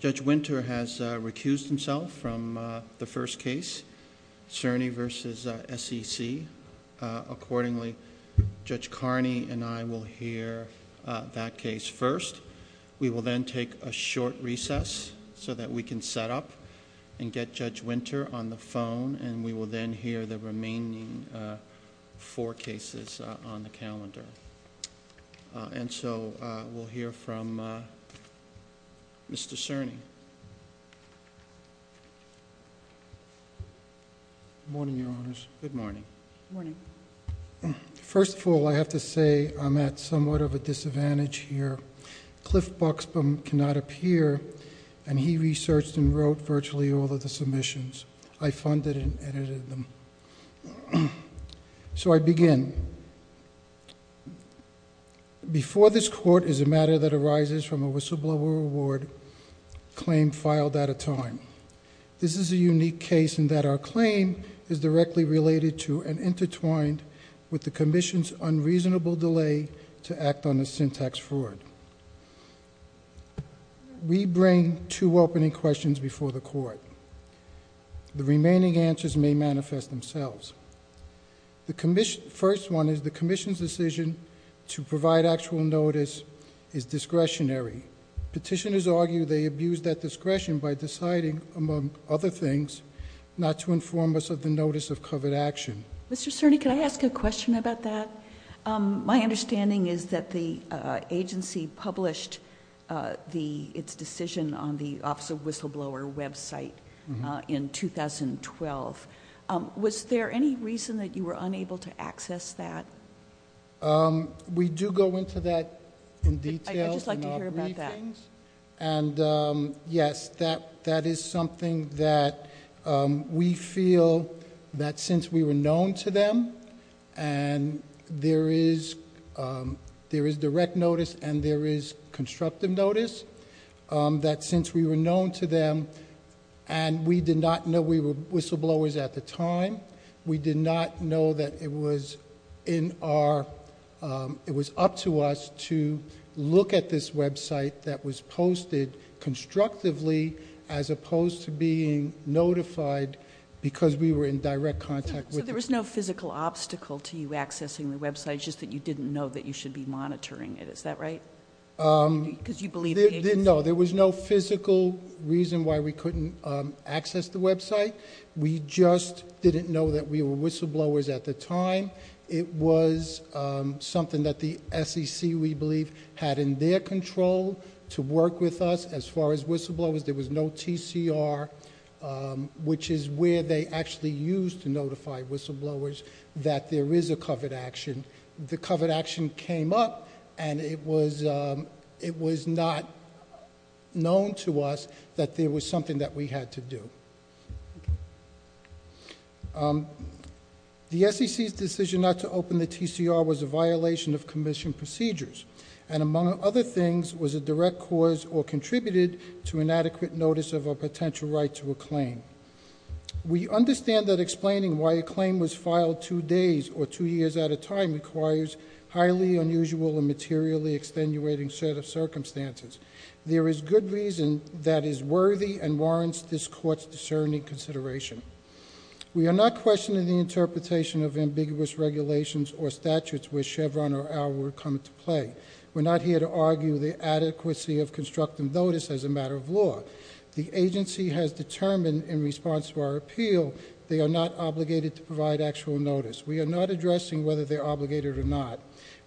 Judge Winter has recused himself from the first case, Cerny v. S.E.C. Accordingly, Judge Carney and I will hear that case first. We will then take a short recess so that we can set up and get Judge Winter on the phone and we will then hear the remaining four cases on the calendar. And so, we'll hear from Mr. Cerny. Good morning, Your Honors. Good morning. Good morning. First of all, I have to say I'm at somewhat of a disadvantage here. Cliff Buxbaum cannot appear, and he researched and wrote virtually all of the submissions. I funded and edited them. So, I begin. Before this court is a matter that arises from a whistleblower award claim filed at a time. This is a unique case in that our claim is directly related to and intertwined with the commission's unreasonable delay to act on the syntax fraud. We bring two opening questions before the court. The remaining answers may manifest themselves. The first one is the commission's decision to provide actual notice is discretionary. Petitioners argue they abused that discretion by deciding, among other things, not to inform us of the notice of covered action. Mr. Cerny, can I ask a question about that? My understanding is that the agency published its decision on the Office of Whistleblower website in 2012. Was there any reason that you were unable to access that? We do go into that in detail in our briefings. And yes, that is something that we feel that since we were known to them, and there is direct notice and there is constructive notice, that since we were known to them and we did not know we were whistleblowers at the time, we did not know that it was up to us to look at this website that was posted constructively as opposed to being notified because we were in direct contact with them. So there was no physical obstacle to you accessing the website, just that you didn't know that you should be monitoring it, is that right? Because you believe the agency? No, there was no physical reason why we couldn't access the website. We just didn't know that we were whistleblowers at the time. It was something that the SEC, we believe, had in their control to work with us as far as whistleblowers. There was no TCR, which is where they actually used to notify whistleblowers that there is a covered action. The covered action came up and it was not known to us that there was something that we had to do. The SEC's decision not to open the TCR was a violation of commission procedures. And among other things, was a direct cause or contributed to inadequate notice of a potential right to a claim. We understand that explaining why a claim was filed two days or two years at a time requires highly unusual and materially extenuating set of circumstances. There is good reason that is worthy and warrants this court's discerning consideration. We are not questioning the interpretation of ambiguous regulations or statutes where Chevron or our word come into play. We're not here to argue the adequacy of constructive notice as a matter of law. The agency has determined in response to our appeal, they are not obligated to provide actual notice. We are not addressing whether they're obligated or not.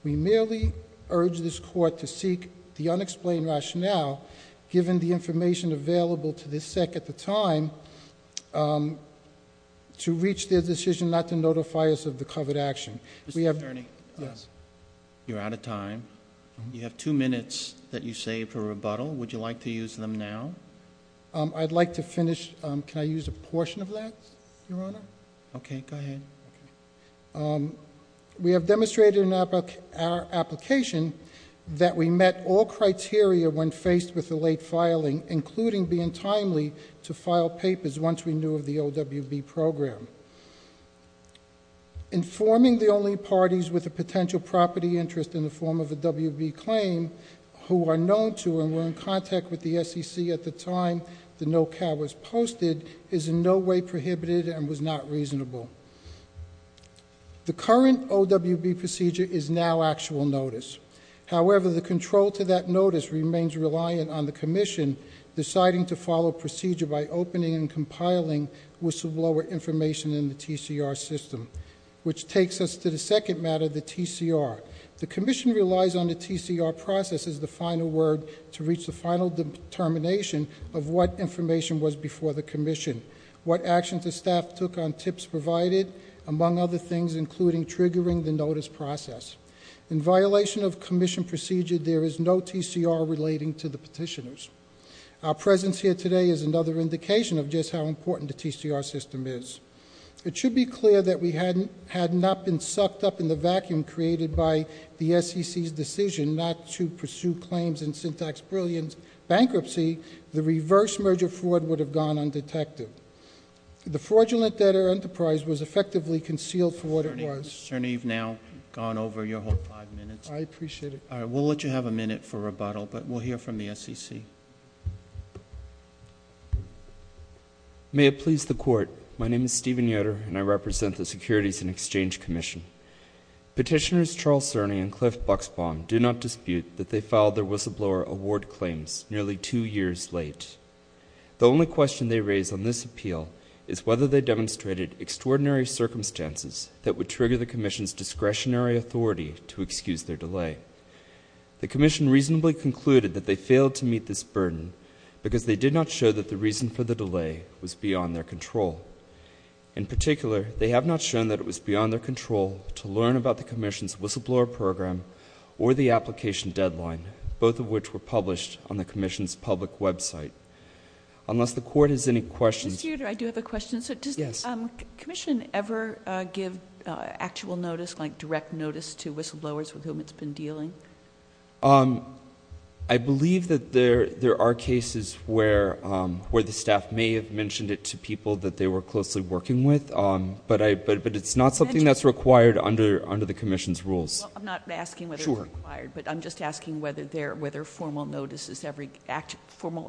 We merely urge this court to seek the unexplained rationale, given the information available to the SEC at the time, to reach their decision not to notify us of the covered action. We have- Mr. Cerny. Yes. You're out of time. You have two minutes that you saved for rebuttal. Would you like to use them now? I'd like to finish. Can I use a portion of that, Your Honor? Okay. Go ahead. We have demonstrated in our application that we met all criteria when faced with the late filing, including being timely to file papers once we knew of the OWB program. Informing the only parties with a potential property interest in the form of a OWB claim who are known to and were in contact with the SEC at the time the no-cow was posted is in no way prohibited and was not reasonable. The current OWB procedure is now actual notice. However, the control to that notice remains reliant on the commission deciding to follow procedure by opening and compiling whistleblower information in the TCR system, which takes us to the second matter, the TCR. The commission relies on the TCR process as the final word to reach the final determination of what information was before the commission, what actions the staff took on tips provided, among other things, including triggering the notice process. In violation of commission procedure, there is no TCR relating to the petitioners. Our presence here today is another indication of just how important the TCR system is. It should be clear that we had not been sucked up in the vacuum created by the SEC's decision not to pursue claims in syntax brilliance bankruptcy. The reverse merger fraud would have gone undetected. The fraudulent debtor enterprise was effectively concealed for what it was. Attorney, you've now gone over your whole five minutes. I appreciate it. All right, we'll let you have a minute for rebuttal, but we'll hear from the SEC. May it please the Court, my name is Stephen Yoder, and I represent the Securities and Exchange Commission. Petitioners Charles Cerny and Cliff Buxbaum do not dispute that they filed their whistleblower award claims nearly two years late. The only question they raise on this appeal is whether they demonstrated extraordinary circumstances that would trigger the commission's discretionary authority to excuse their delay. The commission reasonably concluded that they failed to meet this burden because they did not show that the reason for the delay was beyond their control. In particular, they have not shown that it was beyond their control to learn about the commission's whistleblower program or the application deadline, both of which were published on the commission's public website. Unless the Court has any questions. Mr. Yoder, I do have a question. Yes. Does the commission ever give actual notice, like direct notice, to whistleblowers with whom it's been dealing? I believe that there are cases where the staff may have mentioned it to people that they were closely working with, but it's not something that's required under the commission's rules. Well, I'm not asking whether it's required, but I'm just asking whether formal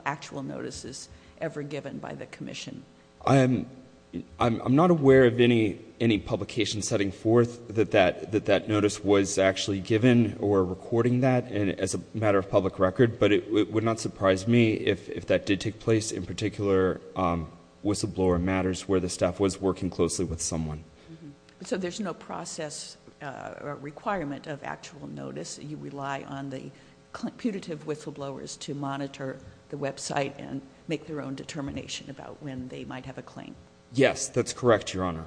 actual notice is ever given by the commission. I'm not aware of any publication setting forth that that notice was actually given or recording that as a matter of public record, but it would not surprise me if that did take place in particular whistleblower matters where the staff was working closely with someone. So there's no process or requirement of actual notice. You rely on the punitive whistleblowers to monitor the website and make their own determination about when they might have a claim. Yes, that's correct, Your Honor.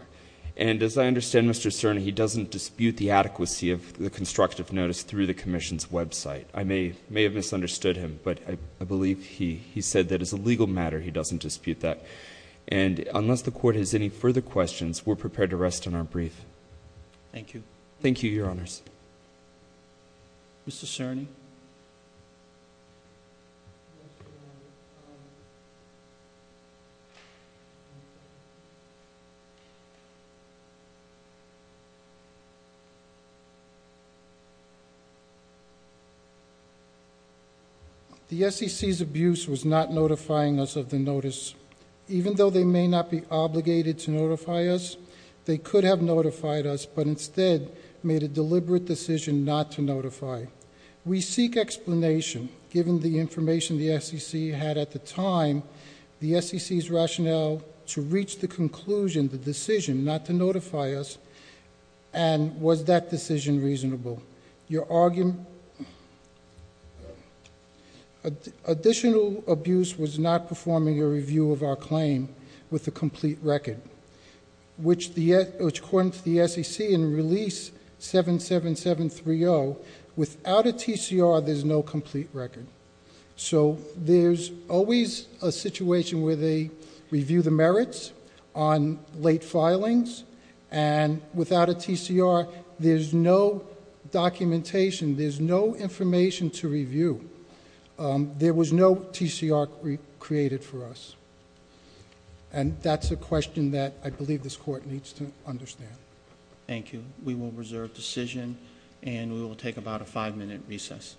And as I understand, Mr. Cerna, he doesn't dispute the adequacy of the constructive notice through the commission's website. I may have misunderstood him, but I believe he said that as a legal matter he doesn't dispute that. And unless the Court has any further questions, we're prepared to rest on our brief. Thank you. Thank you, Your Honors. Mr. Cerny. The SEC's abuse was not notifying us of the notice. Even though they may not be obligated to notify us, they could have notified us, but instead made a deliberate decision not to notify. We seek explanation, given the information the SEC had at the time, the SEC's rationale to reach the conclusion, the decision not to notify us, and was that decision reasonable? Your argument? Additional abuse was not performing a review of our claim with a complete record, which according to the SEC in Release 77730, without a TCR, there's no complete record. So there's always a situation where they review the merits on late filings, and without a TCR, there's no documentation, there's no information to review. There was no TCR created for us. And that's a question that I believe this Court needs to understand. Thank you. We will reserve decision, and we will take about a five-minute recess.